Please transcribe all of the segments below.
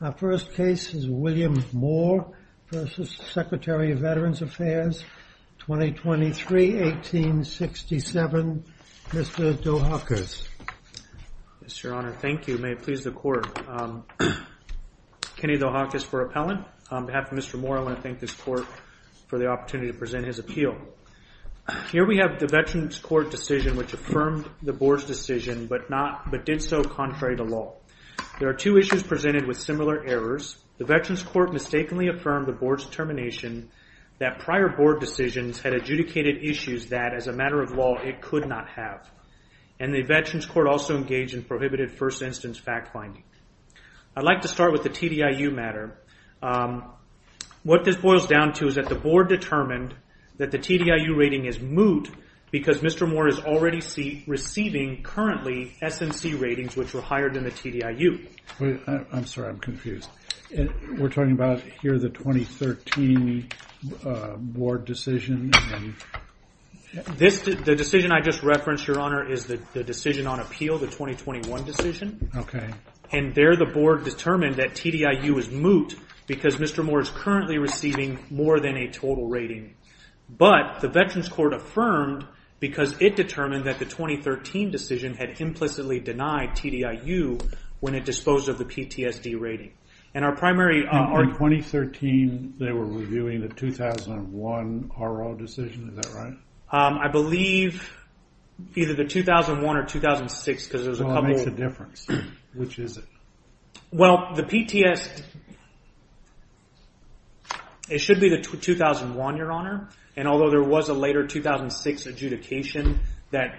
Our first case is William Moore v. Secretary of Veterans Affairs, 2023-1867. Mr. Dohakis. Yes, Your Honor. Thank you. May it please the Court. Kenny Dohakis for appellant. On behalf of Mr. Moore, I want to thank this Court for the opportunity to present his appeal. Here we have the Veterans Court decision which affirmed the Boar's decision but did so contrary to law. There are two issues presented with similar errors. The Veterans Court mistakenly affirmed the Board's determination that prior Board decisions had adjudicated issues that, as a matter of law, it could not have. And the Veterans Court also engaged in prohibited first instance fact-finding. I'd like to start with the TDIU matter. What this boils down to is that the Board determined that the TDIU rating is moot because Mr. Moore is already receiving, currently, SNC ratings which were higher than the TDIU. I'm sorry, I'm confused. We're talking about here the 2013 Board decision? The decision I just referenced, Your Honor, is the decision on appeal, the 2021 decision. And there the Board determined that TDIU is moot because Mr. Moore is currently receiving more than a total rating. But the Veterans Court affirmed because it determined that the 2013 decision had implicitly denied TDIU when it disposed of the PTSD rating. In 2013, they were reviewing the 2001 R.O. decision, is that right? I believe either the 2001 or 2006 because there's a couple of... Well, it makes a difference. Which is it? Well, the PTSD, it should be the 2001, Your Honor. And although there was a later 2006 adjudication that,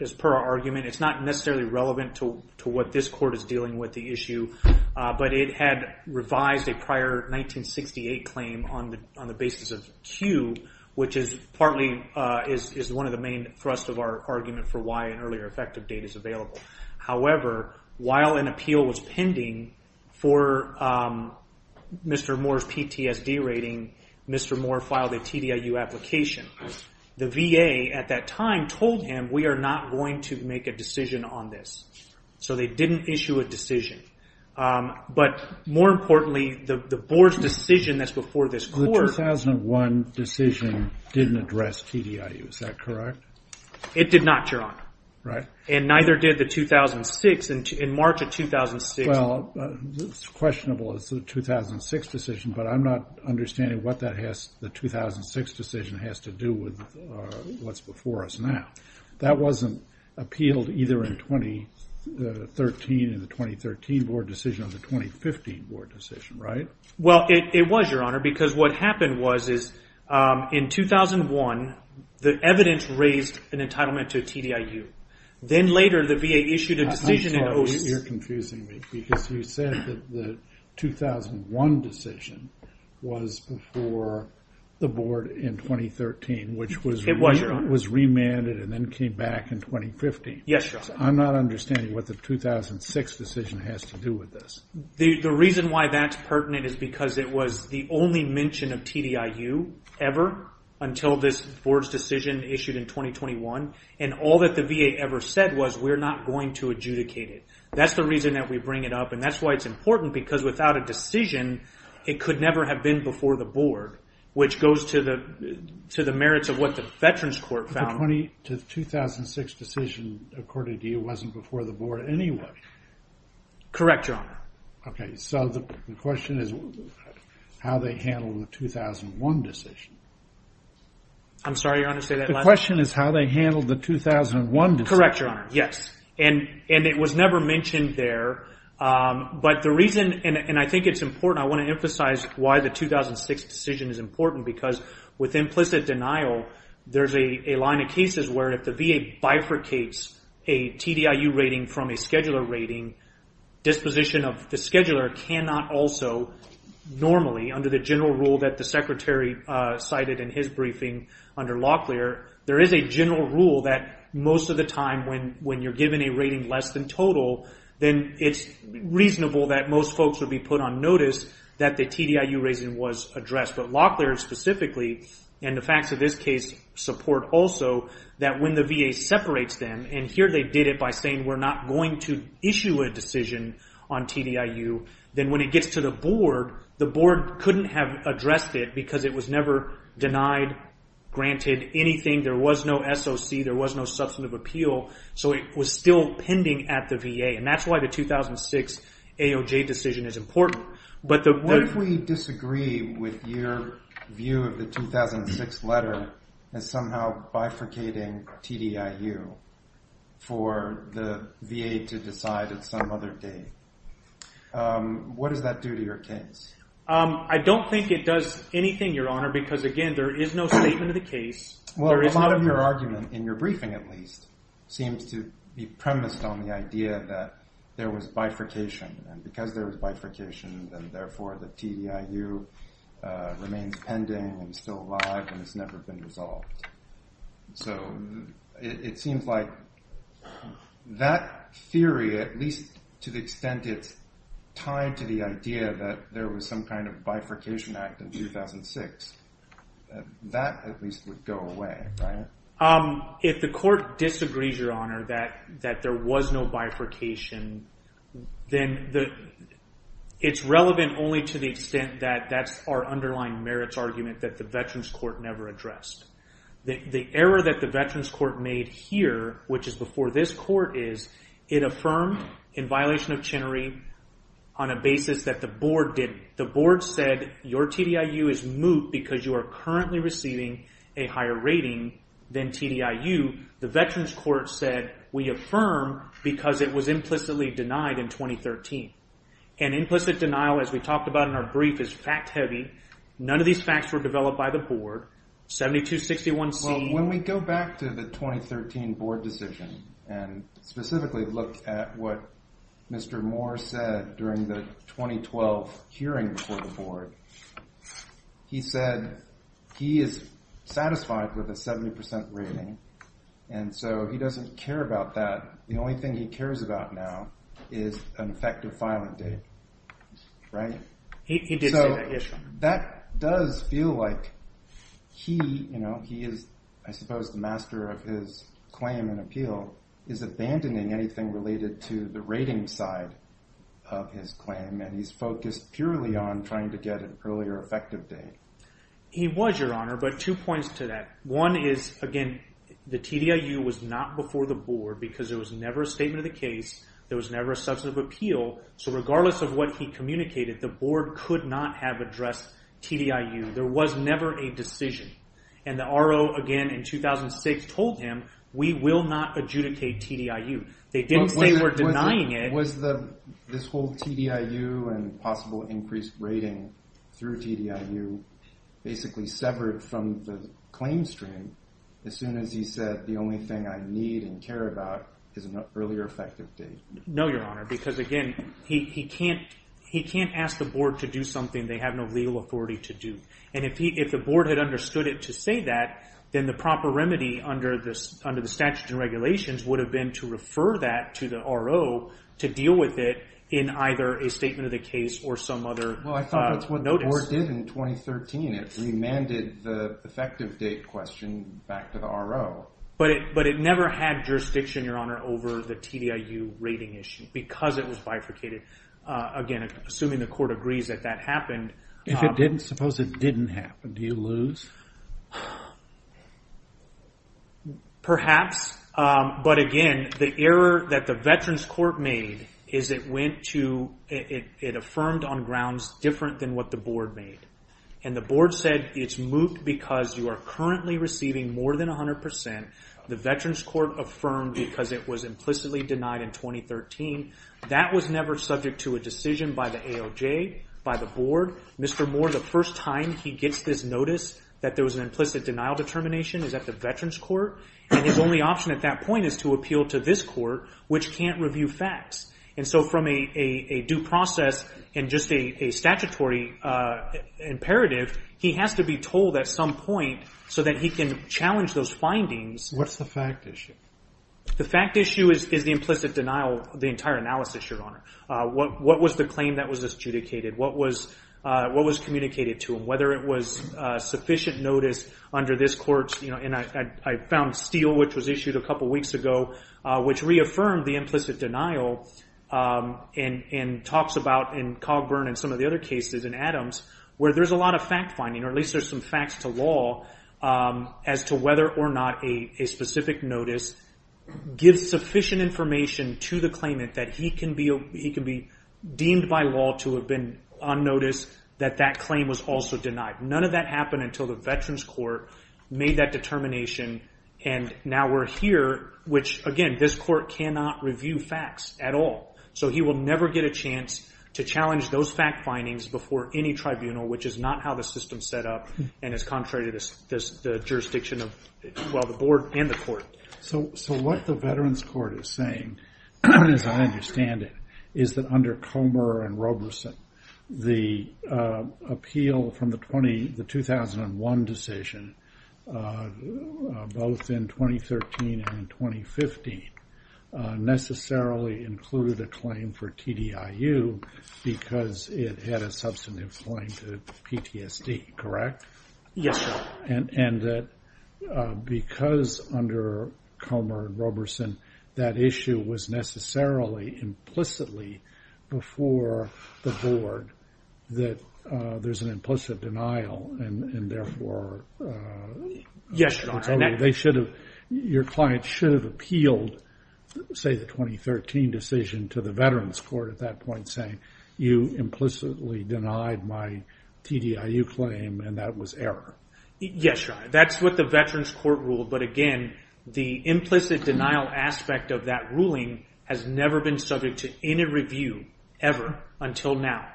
as per our argument, it's not necessarily relevant to what this Court is dealing with the issue. But it had revised a prior 1968 claim on the basis of Q, which is partly, is one of the main thrust of our argument for why an earlier effective date is available. However, while an appeal was pending for Mr. Moore's PTSD rating, Mr. Moore filed a TDIU application. The VA at that time told him, we are not going to make a decision on this. So they didn't issue a decision. But more importantly, the Board's decision that's before this Court... The 2001 decision didn't address TDIU, is that correct? It did not, Your Honor. Right. And neither did the 2006. In March of 2006... Well, it's questionable it's the 2006 decision, but I'm not understanding what the 2006 decision has to do with what's before us now. That wasn't appealed either in 2013 in the 2013 Board decision or the 2015 Board decision, right? Well, it was, Your Honor, because what happened was, in 2001, the evidence raised an entitlement to a TDIU. Then later, the VA issued a decision... I'm sorry, you're confusing me. Because you said that the 2001 decision was before the Board in 2013, which was... It was, Your Honor. Was remanded and then came back in 2015. Yes, Your Honor. I'm not understanding what the 2006 decision has to do with this. The reason why that's pertinent is because it was the only mention of TDIU ever until this Board's decision issued in 2021. And all that the VA ever said was, we're not going to adjudicate it. That's the reason that we bring it up. And that's why it's important because without a decision, it could never have been before the Board, which goes to the merits of what the Veterans Court found... But the 2006 decision, according to you, wasn't before the Board anyway. Correct, Your Honor. Okay, so the question is how they handled the 2001 decision. I'm sorry, Your Honor, say that again. The question is how they handled the 2001 decision. Correct, Your Honor. Yes. And it was never mentioned there. But the reason, and I think it's important, I want to emphasize why the 2006 decision is important. Because with implicit regular rating, disposition of the scheduler cannot also normally, under the general rule that the Secretary cited in his briefing under Locklear, there is a general rule that most of the time when you're given a rating less than total, then it's reasonable that most folks would be put on notice that the TDIU reason was addressed. But Locklear specifically, and the facts of this case support also, that when the VA separates them, and here they did it by saying we're not going to issue a decision on TDIU, then when it gets to the Board, the Board couldn't have addressed it because it was never denied, granted anything, there was no SOC, there was no substantive appeal, so it was still pending at the VA. And that's why the 2006 AOJ decision is important. What if we disagree with your view of the 2006 letter as somehow bifurcating TDIU for the VA to decide at some other day? What does that do to your case? I don't think it does anything, Your Honor, because again, there is no statement of the case. A lot of your argument, in your briefing at least, seems to be premised on the idea that there was bifurcation, and because there was bifurcation, then therefore the TDIU remains pending and still alive and has never been resolved. So it seems like that theory, at least to the extent it's tied to the idea that there was some kind of bifurcation act in 2006, that at least would go away, right? If the Court disagrees, Your Honor, that there was no bifurcation, then it's relevant only to the extent that that's our underlying merits argument that the Veterans Court never addressed. The error that the Veterans Court made here, which is before this Court, is it affirmed in violation of Chenery on a basis that the Board didn't. The Board said, your TDIU is moot because you are currently receiving a higher rating than TDIU. The Veterans Court said, we affirm because it was implicitly denied in 2013. And implicit denial, as we talked about in our brief, is fact-heavy. None of these facts were developed by the Board. 7261C... Well, when we go back to the 2013 Board decision and specifically look at what Mr. Moore said during the 2012 hearing before the Board, he said he is satisfied with a 70% rating. And so he doesn't care about that. The only thing he cares about now is an effective filing date, right? He did say that, yes, Your Honor. That does feel like he, you know, he is, I suppose, the master of his claim and appeal, is abandoning anything related to the rating side of his claim. And he's focused purely on trying to get an earlier effective date. He was, Your Honor, but two points to that. One is, again, the TDIU was not before the Board because there was never a statement of the case. There was never a substantive appeal. So regardless of what he communicated, the Board could not have addressed TDIU. There was never a decision. And the RO, again, in 2006 told him, we will not adjudicate TDIU. They didn't say we're denying it. Was this whole TDIU and possible increased rating through TDIU basically severed from the claim stream as soon as he said, the only thing I need and care about is an earlier effective date? No, Your Honor, because again, he can't ask the Board to do something they have no legal authority to do. And if the Board had understood it to say that, then the proper remedy under the statute and regulations would have been to refer that to the RO to deal with it in either a statement of the case or some other notice. Well, I thought that's what the Board did in 2013. It remanded the effective date question back to the RO. But it never had jurisdiction, Your Honor, over the TDIU rating issue because it was bifurcated. Again, assuming the Court agrees that that happened. If it didn't, suppose it didn't happen, do you lose? Perhaps. But again, the error that the Veterans Court made is it went to, it affirmed on grounds different than what the Board made. And the Board said it's moot because you are currently receiving more than 100%. The Veterans Court affirmed because it was implicitly denied in 2013. That was never subject to a decision by the ALJ, by the Board. Mr. Moore, the first time he gets this notice that there was an implicit denial determination is at the Veterans Court. And his only option at that point is to appeal to this Court, which can't review facts. And so from a due process and just a statutory imperative, he has to be told at some point so that he can challenge those findings. What's the fact issue? The fact issue is the implicit denial, the entire analysis, Your Honor. What was the claim that was adjudicated? What was communicated to him? Whether it was sufficient notice under this Court's, and I found Steele, which was issued a couple weeks ago, which reaffirmed the implicit denial, and talks about in Cogburn and some of the other cases in Adams, where there's a lot of fact finding, or at least there's some facts to law, as to whether or not a specific notice gives sufficient information to the claimant that he can be deemed by law to have been on notice that that claim was also denied. None of that happened until the Veterans Court made that determination. And now we're here, which again, this Court cannot review facts at all. So he will never get a chance to challenge those fact findings before any tribunal, which is not how the system's set up, and is contrary to the jurisdiction of the Board and the Court. So what the Veterans Court is saying, as I understand it, is that under Comber and Roberson, the appeal from the 2001 decision, both in 2013 and in 2015, necessarily included a claim for TDIU, because it had a substantive claim to PTSD, correct? Yes, Your Honor. And that because under Comber and Roberson, that issue was necessarily implicitly before the Board, that there's an implicit denial, and therefore... Yes, Your Honor. Your client should have appealed, say the 2013 decision, to the Veterans Court at that point saying, you implicitly denied my TDIU claim, and that was error. Yes, Your Honor. That's what the Veterans Court ruled, but again, the implicit denial aspect of that ruling has never been subject to any review, ever, until now.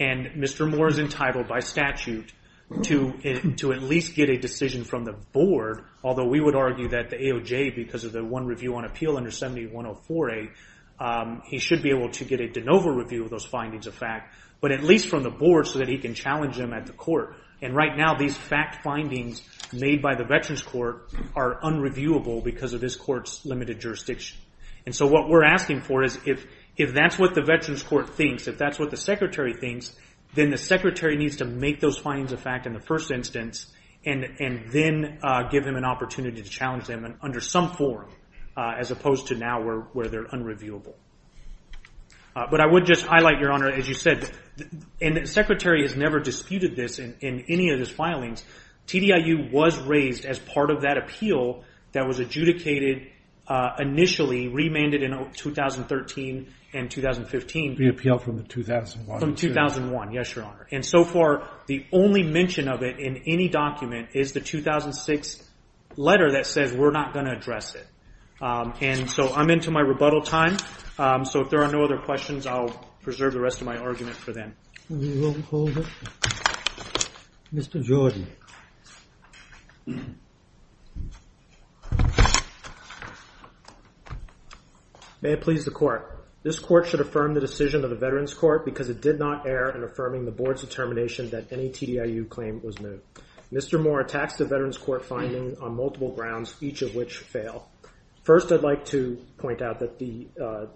And Mr. Moore is entitled by statute to at least get a decision from the Board, although we would argue that the AOJ, because of the one review on appeal under 7104A, he should be able to get a de novo review of those findings of fact, but at least from the Board so that he can challenge them at the Court. And right now, these fact findings made by the Veterans Court are unreviewable because of this Court's limited jurisdiction. And so what we're asking for is, if that's what the Veterans Court thinks, if that's what the Secretary thinks, then the Secretary needs to make those findings of fact in the first instance, and then give him an opportunity to challenge them under some form, as opposed to now where they're unreviewable. But I would just highlight, Your Honor, as you said, and the Secretary has never disputed this in any of his filings, TDIU was raised as part of that appeal that was adjudicated initially, remanded in 2013 and 2015. The appeal from 2001. From 2001, yes, Your Honor. And so far, the only mention of it in any document is the 2006 letter that says, we're not going to address it. And so I'm into my rebuttal time, so if there are no other questions, I'll preserve the rest of my argument for then. We will hold it. Mr. Jordan. May it please the Court. This Court should affirm the decision of the Veterans Court because it did not err in affirming the Board's determination that any TDIU claim was new. Mr. Moore attacks the Veterans Court findings on multiple grounds, each of which fail. First, I'd like to point out that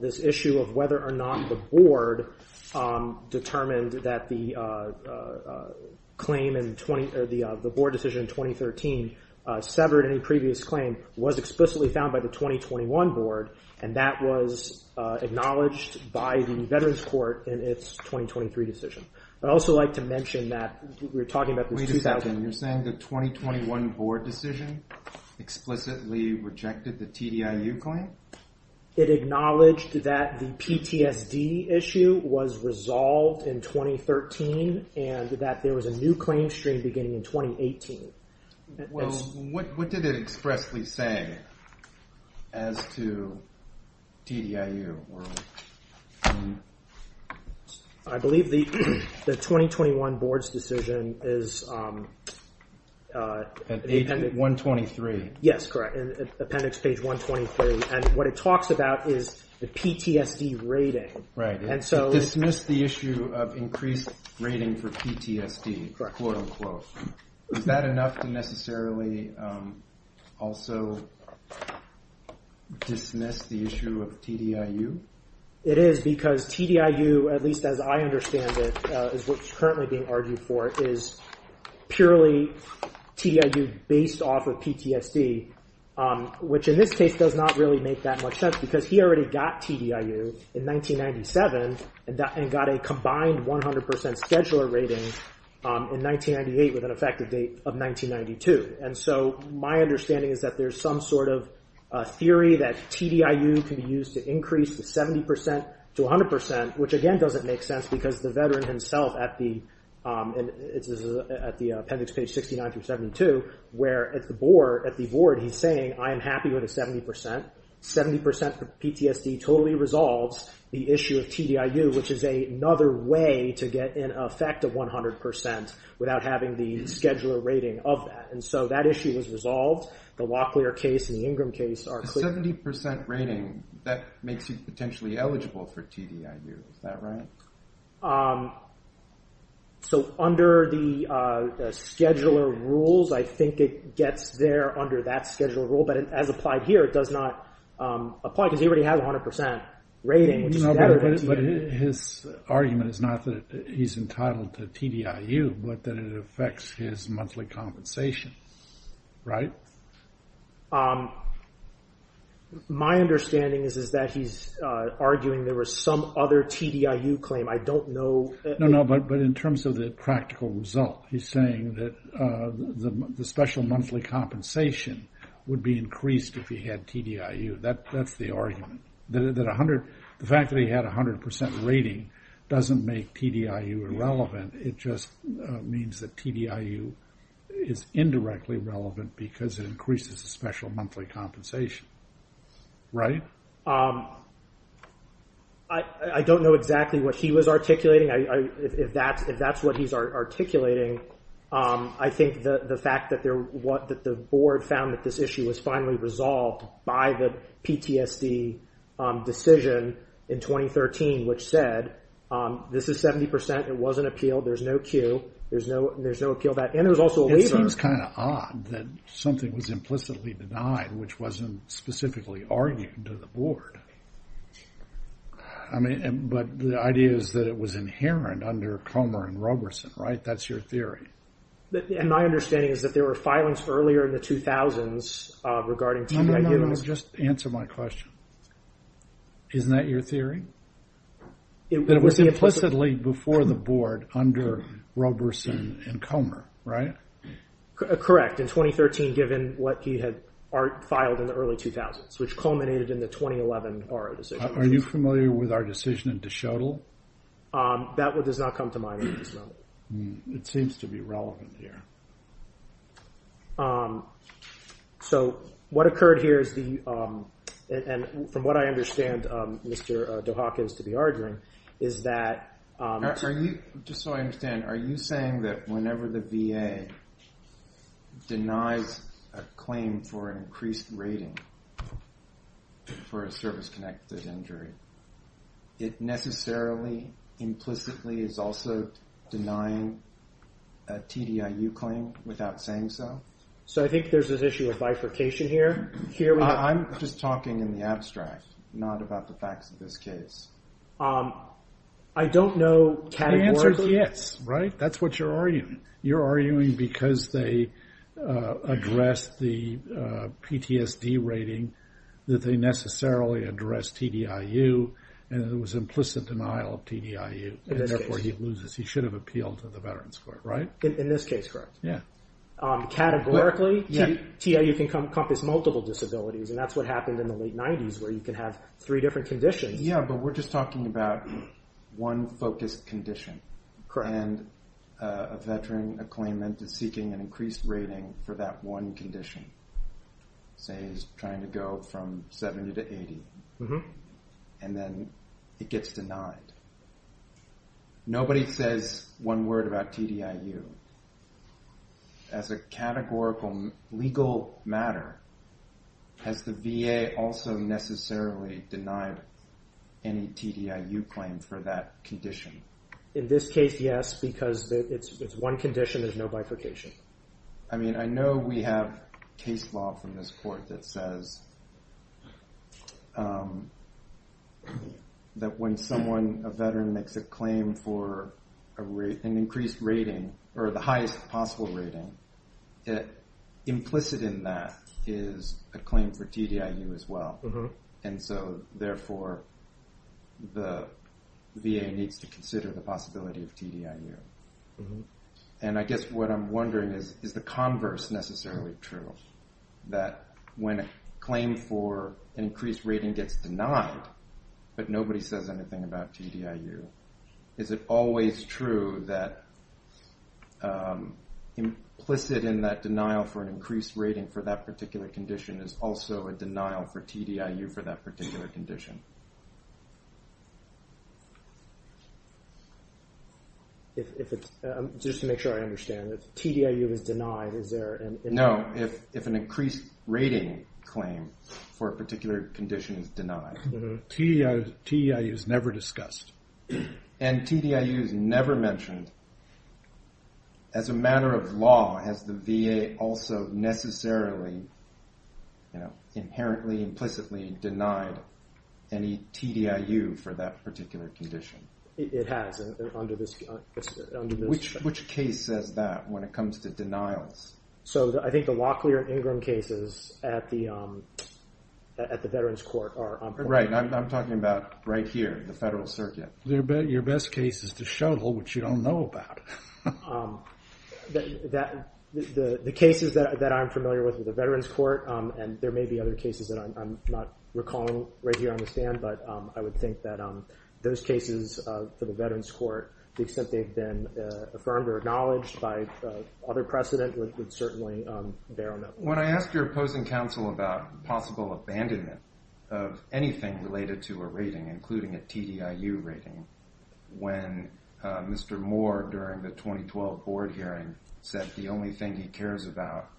this issue of whether or not the Board determined that the Board decision in 2013 severed any previous claim was explicitly found by the 2021 Board, and that was acknowledged by the Veterans Court in its 2023 decision. I'd also like to mention that we're talking about this 2000... Wait a second. You're saying the 2021 Board decision explicitly rejected the TDIU claim? It acknowledged that the PTSD issue was resolved in 2013, and that there was a new claim stream beginning in 2018. Well, what did it expressly say as to TDIU? I believe the 2021 Board's decision is... At 123. Yes, correct. Appendix page 123. And what it talks about is the PTSD rating. Right. It dismissed the issue of increased rating for PTSD, quote unquote. Is that enough to necessarily also dismiss the issue of TDIU? It is, because TDIU, at least as I understand it, is what's currently being argued for, is purely TDIU based off of PTSD, which in this case does not really make that much sense, because he already got TDIU in 1997, and got a combined 100% scheduler rating in 1998, with an effective date of 1992. And so my understanding is that there's some sort of theory that TDIU can be used to increase the 70% to 100%, which again doesn't make sense, because the veteran himself at the... This is at the appendix page 69 through 72, where at the Board, he's saying, I am happy with a 70%. 70% for PTSD totally resolves the issue of TDIU, which is another way to get an effective 100% without having the scheduler rating of that. And so that issue was resolved. The Locklear case and the Ingram case are... A 70% rating, that makes you potentially eligible for TDIU. Is that right? So under the scheduler rules, I think it gets there under that scheduler rule, but as applied here, it does not apply, because he already has a 100% rating. But his argument is not that he's entitled to TDIU, but that it affects his monthly compensation, right? My understanding is that he's arguing there was some other TDIU claim. I don't know... No, no, but in terms of the practical result, he's saying that the special monthly compensation would be increased if he had TDIU. That's the argument. The fact that he had a 100% rating doesn't make TDIU irrelevant. It just means that TDIU is indirectly relevant because it increases the special monthly compensation, right? I don't know exactly what he was articulating. If that's what he's articulating, I think the fact that the board found that this issue was finally resolved by the PTSD decision in 2013, which said this is 70%, it wasn't appealed, there's no Q, there's no appeal, and there was also a waiver. It seems kind of odd that something was implicitly denied, which wasn't specifically argued to the board. But the idea is that it was inherent under Comer and Roberson, right? That's your theory. My understanding is that there were filings earlier in the 2000s regarding TDIU... No, no, no, just answer my question. Isn't that your theory? It was implicitly before the board under Roberson and Comer, right? Correct, in 2013, given what he had filed in the early 2000s, which culminated in the 2011 BARA decision. Are you familiar with our decision in DeShettle? That does not come to mind at this moment. It seems to be relevant here. So what occurred here is the... And from what I understand, Mr. Dohaken is to be arguing, is that... Just so I understand, are you saying that whenever the VA denies a claim for an increased rating for a service-connected injury, it necessarily, implicitly, is also denying a TDIU claim without saying so? So I think there's an issue of bifurcation here. I'm just talking in the abstract, not about the facts of this case. I don't know categorically... The answer is yes, right? That's what you're arguing. You're arguing because they addressed the PTSD rating, that they necessarily addressed TDIU, and it was implicit denial of TDIU, and therefore he loses. He should have appealed to the Veterans Court, right? In this case, correct. Categorically, TDIU can encompass multiple disabilities, and that's what happened in the late 90s, where you can have three different conditions. Yeah, but we're just talking about one focused condition. And a veteran, a claimant, is seeking an increased rating for that one condition. Say he's trying to go from 70 to 80, and then it gets denied. Nobody says one word about TDIU. As a categorical legal matter, has the VA also necessarily denied any TDIU claim for that condition? In this case, yes, because it's one condition, there's no bifurcation. I mean, I know we have case law from this court that says that when someone, a veteran, makes a claim for an increased rating, or the highest possible rating, implicit in that is a claim for TDIU as well. And so, therefore, the VA needs to consider the possibility of TDIU. And I guess what I'm wondering is, is the converse necessarily true? That when a claim for an increased rating gets denied, but nobody says anything about TDIU, is it always true that implicit in that denial for an increased rating for that particular condition is also a denial for TDIU for that particular condition? If it's, just to make sure I understand, if TDIU is denied, is there an... No, if an increased rating claim for a particular condition is denied. TDIU is never discussed. And TDIU is never mentioned. As a matter of law, has the VA also necessarily, you know, inherently, implicitly denied any TDIU for that particular condition? It has under this... Which case says that when it comes to denials? So I think the Locklear and Ingram cases at the Veterans Court are... Right, I'm talking about right here, the Federal Circuit. Your best case is the shuttle, which you don't know about. The cases that I'm familiar with at the Veterans Court, and there may be other cases that I'm not recalling, right here on the stand, but I would think that those cases for the Veterans Court, the extent they've been affirmed or acknowledged by other precedent would certainly bear a note. When I asked your opposing counsel about possible abandonment of anything related to a rating, including a TDIU rating, when Mr. Moore, during the 2012 board hearing, said the only thing he cares about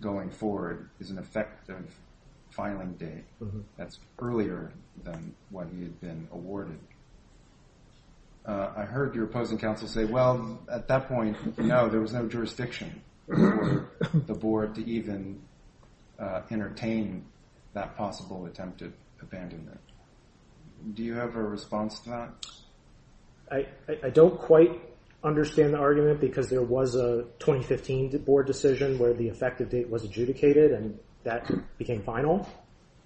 going forward is an effective filing date. That's earlier than what he had been awarded. I heard your opposing counsel say, well, at that point, no, there was no jurisdiction for the board to even entertain that possible attempted abandonment. Do you have a response to that? I don't quite understand the argument because there was a 2015 board decision where the effective date was adjudicated and that became final.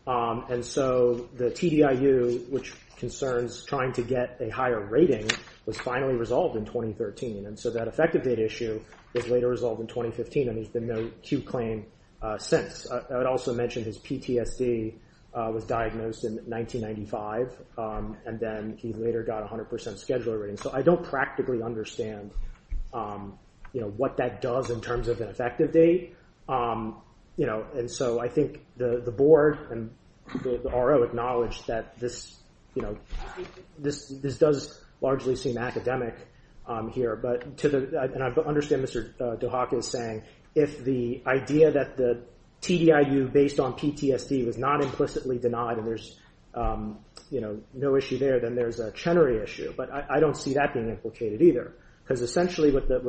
And so the TDIU, which concerns trying to get a higher rating, was finally resolved in 2013. And so that effective date issue was later resolved in 2015 and there's been no Q claim since. I would also mention his PTSD was diagnosed in 1995, and then he later got a 100% scheduler rating. So I don't practically understand what that does in terms of an effective date. And so I think the board and the RO acknowledged that this does largely seem academic here. And I understand Mr. DeHaka is saying, if the idea that the TDIU based on PTSD was not implicitly denied and there's no issue there, then there's a Chenery issue. But I don't see that being implicated either. Because essentially what the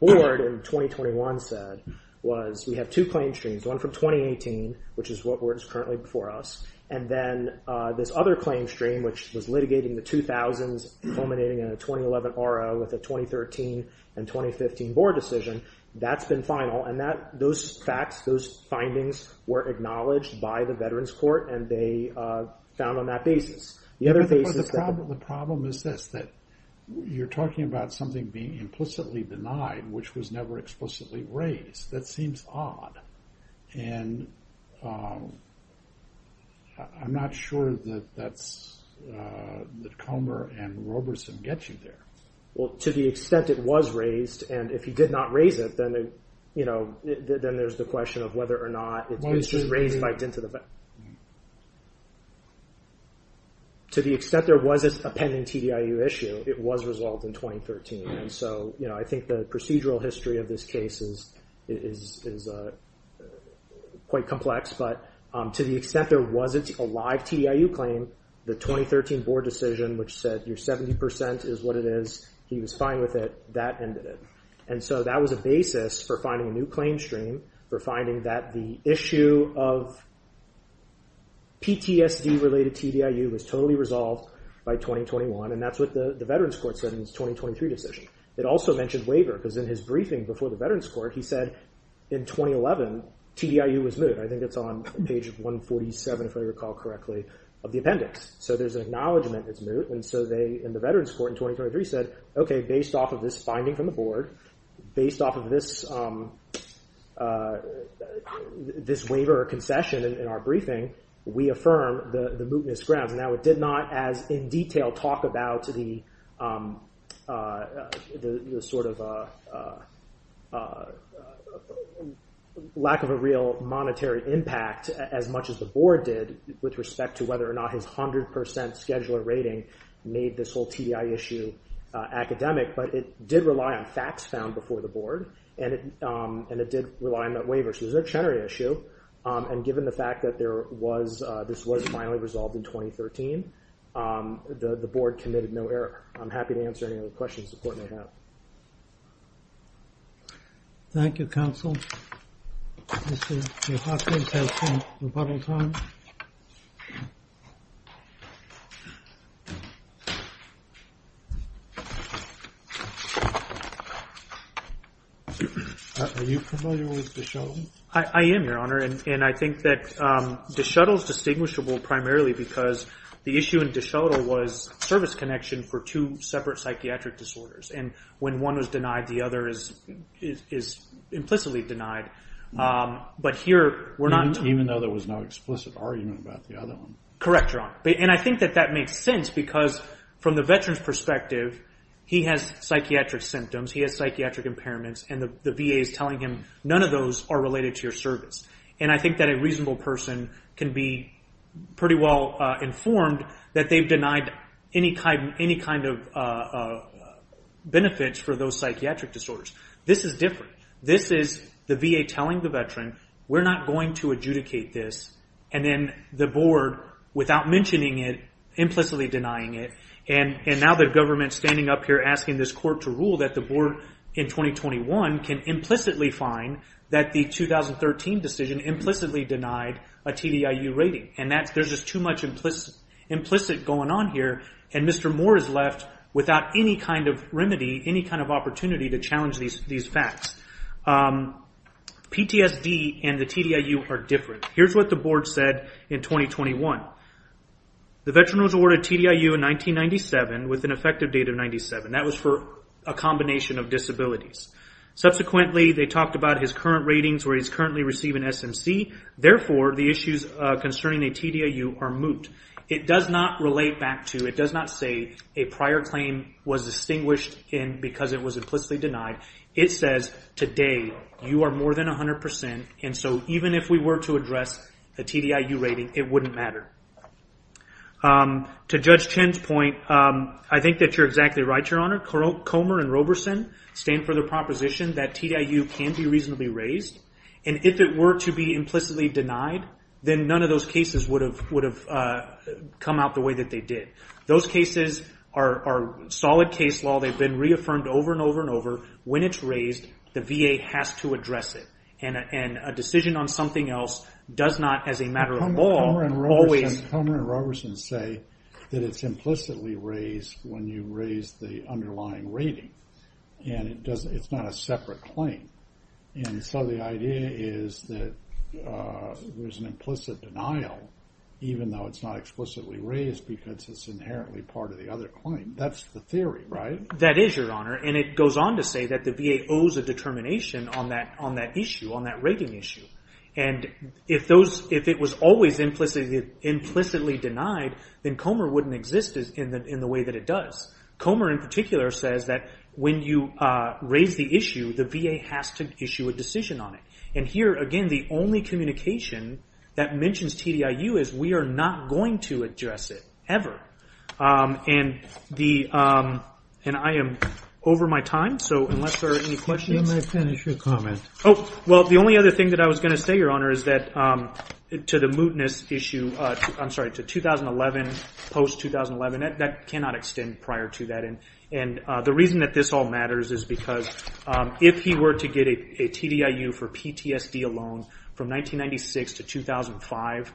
board in 2021 said was, we have two claim streams, one from 2018, which is what is currently before us, and then this other claim stream, which was litigating the 2000s culminating in a 2011 RO with a 2013 and 2015 board decision, that's been final. And those facts, those findings were acknowledged by the Veterans Court and they found on that basis. The other thing is that... The problem is this, that you're talking about something being implicitly denied, which was never explicitly raised. That seems odd. And I'm not sure that Comer and Roberson get you there. Well, to the extent it was raised, and if he did not raise it, then there's the question of whether or not it's been raised by dint of the... To the extent there was a pending TDIU issue, it was resolved in 2013. And so I think the procedural history of this case is quite complex. But to the extent there was a live TDIU claim, the 2013 board decision, which said your 70% is what it is, he was fine with it, that ended it. And so that was a basis for finding a new claim stream, for finding that the issue of PTSD-related TDIU was totally resolved by 2021. And that's what the Veterans Court said in its 2023 decision. It also mentioned waiver, because in his briefing before the Veterans Court, he said in 2011, TDIU was moot. I think it's on page 147, if I recall correctly, of the appendix. So there's an acknowledgment it's moot. And so they, in the Veterans Court in 2023, said, okay, based off of this finding from the board, based off of this waiver or concession in our briefing, we affirm the mootness grounds. Now it did not, as in detail, talk about the sort of lack of a real monetary impact as much as the board did with respect to whether or not his 100% scheduler rating made this whole TDIU issue academic. But it did rely on facts found before the board. And it did rely on that waiver. So it was a tenory issue. And given the fact that there was, this was finally resolved in 2013, the board committed no error. I'm happy to answer any other questions the court may have. Thank you, counsel. Are you familiar with the show? I am, Your Honor. And I think that DeShuttle is distinguishable primarily because the issue in DeShuttle was service connection for two separate psychiatric disorders. And when one was denied, the other is implicitly denied. But here, we're not- Even though there was no explicit argument about the other one. Correct, Your Honor. And I think that that makes sense because from the veteran's perspective, he has psychiatric symptoms. He has psychiatric impairments. And the VA is telling him, none of those are related to your service. And I think that a reasonable person can be pretty well informed that they've denied any kind of benefits for those psychiatric disorders. This is different. This is the VA telling the veteran, we're not going to adjudicate this. And then the board, without mentioning it, implicitly denying it. And now the government's standing up here asking this court to rule that the board in 2021 can implicitly find that the 2013 decision implicitly denied a TDIU rating. And there's just too much implicit going on here. And Mr. Moore is left without any kind of remedy, any kind of opportunity to challenge these facts. PTSD and the TDIU are different. Here's what the board said in 2021. The veteran was awarded TDIU in 1997 with an effective date of 97. That was for a combination of disabilities. Subsequently, they talked about his current ratings where he's currently receiving SMC. Therefore, the issues concerning a TDIU are moot. It does not relate back to, it does not say a prior claim was distinguished because it was implicitly denied. It says, today, you are more than 100%. And so even if we were to address a TDIU rating, it wouldn't matter. To Judge Chen's point, I think that you're exactly right, Your Honor. Comer and Roberson stand for the proposition that TDIU can be reasonably raised. And if it were to be implicitly denied, then none of those cases would have come out the way that they did. Those cases are solid case law. They've been reaffirmed over and over and over. When it's raised, the VA has to address it. And a decision on something else does not, as a matter of law, always... Comer and Roberson say that it's implicitly raised when you raise the underlying rating. And it's not a separate claim. And so the idea is that there's an implicit denial, even though it's not explicitly raised because it's inherently part of the other claim. That's the theory, right? That is, Your Honor. And it goes on to say that the VA owes a determination on that issue, on that rating issue. And if it was always implicitly denied, then Comer wouldn't exist in the way that it does. Comer, in particular, says that when you raise the issue, the VA has to issue a decision on it. And here, again, the only communication that mentions TDIU is, we are not going to address it, ever. And I am over my time. So unless there are any questions... Oh, well, the only other thing that I was going to say, Your Honor, is that to the mootness issue, I'm sorry, to 2011, post-2011, that cannot extend prior to that. And the reason that this all matters is because if he were to get a TDIU for PTSD alone, from 1996 to 2005,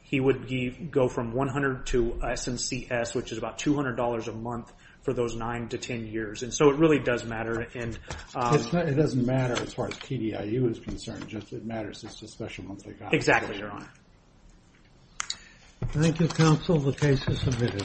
he would go from 100 to SNCS, which is about $200 a month for those 9 to 10 years. And so it really does matter. It doesn't matter as far as TDIU is concerned, just it matters that it's a special month. Exactly, Your Honor. Thank you, counsel. The case is submitted.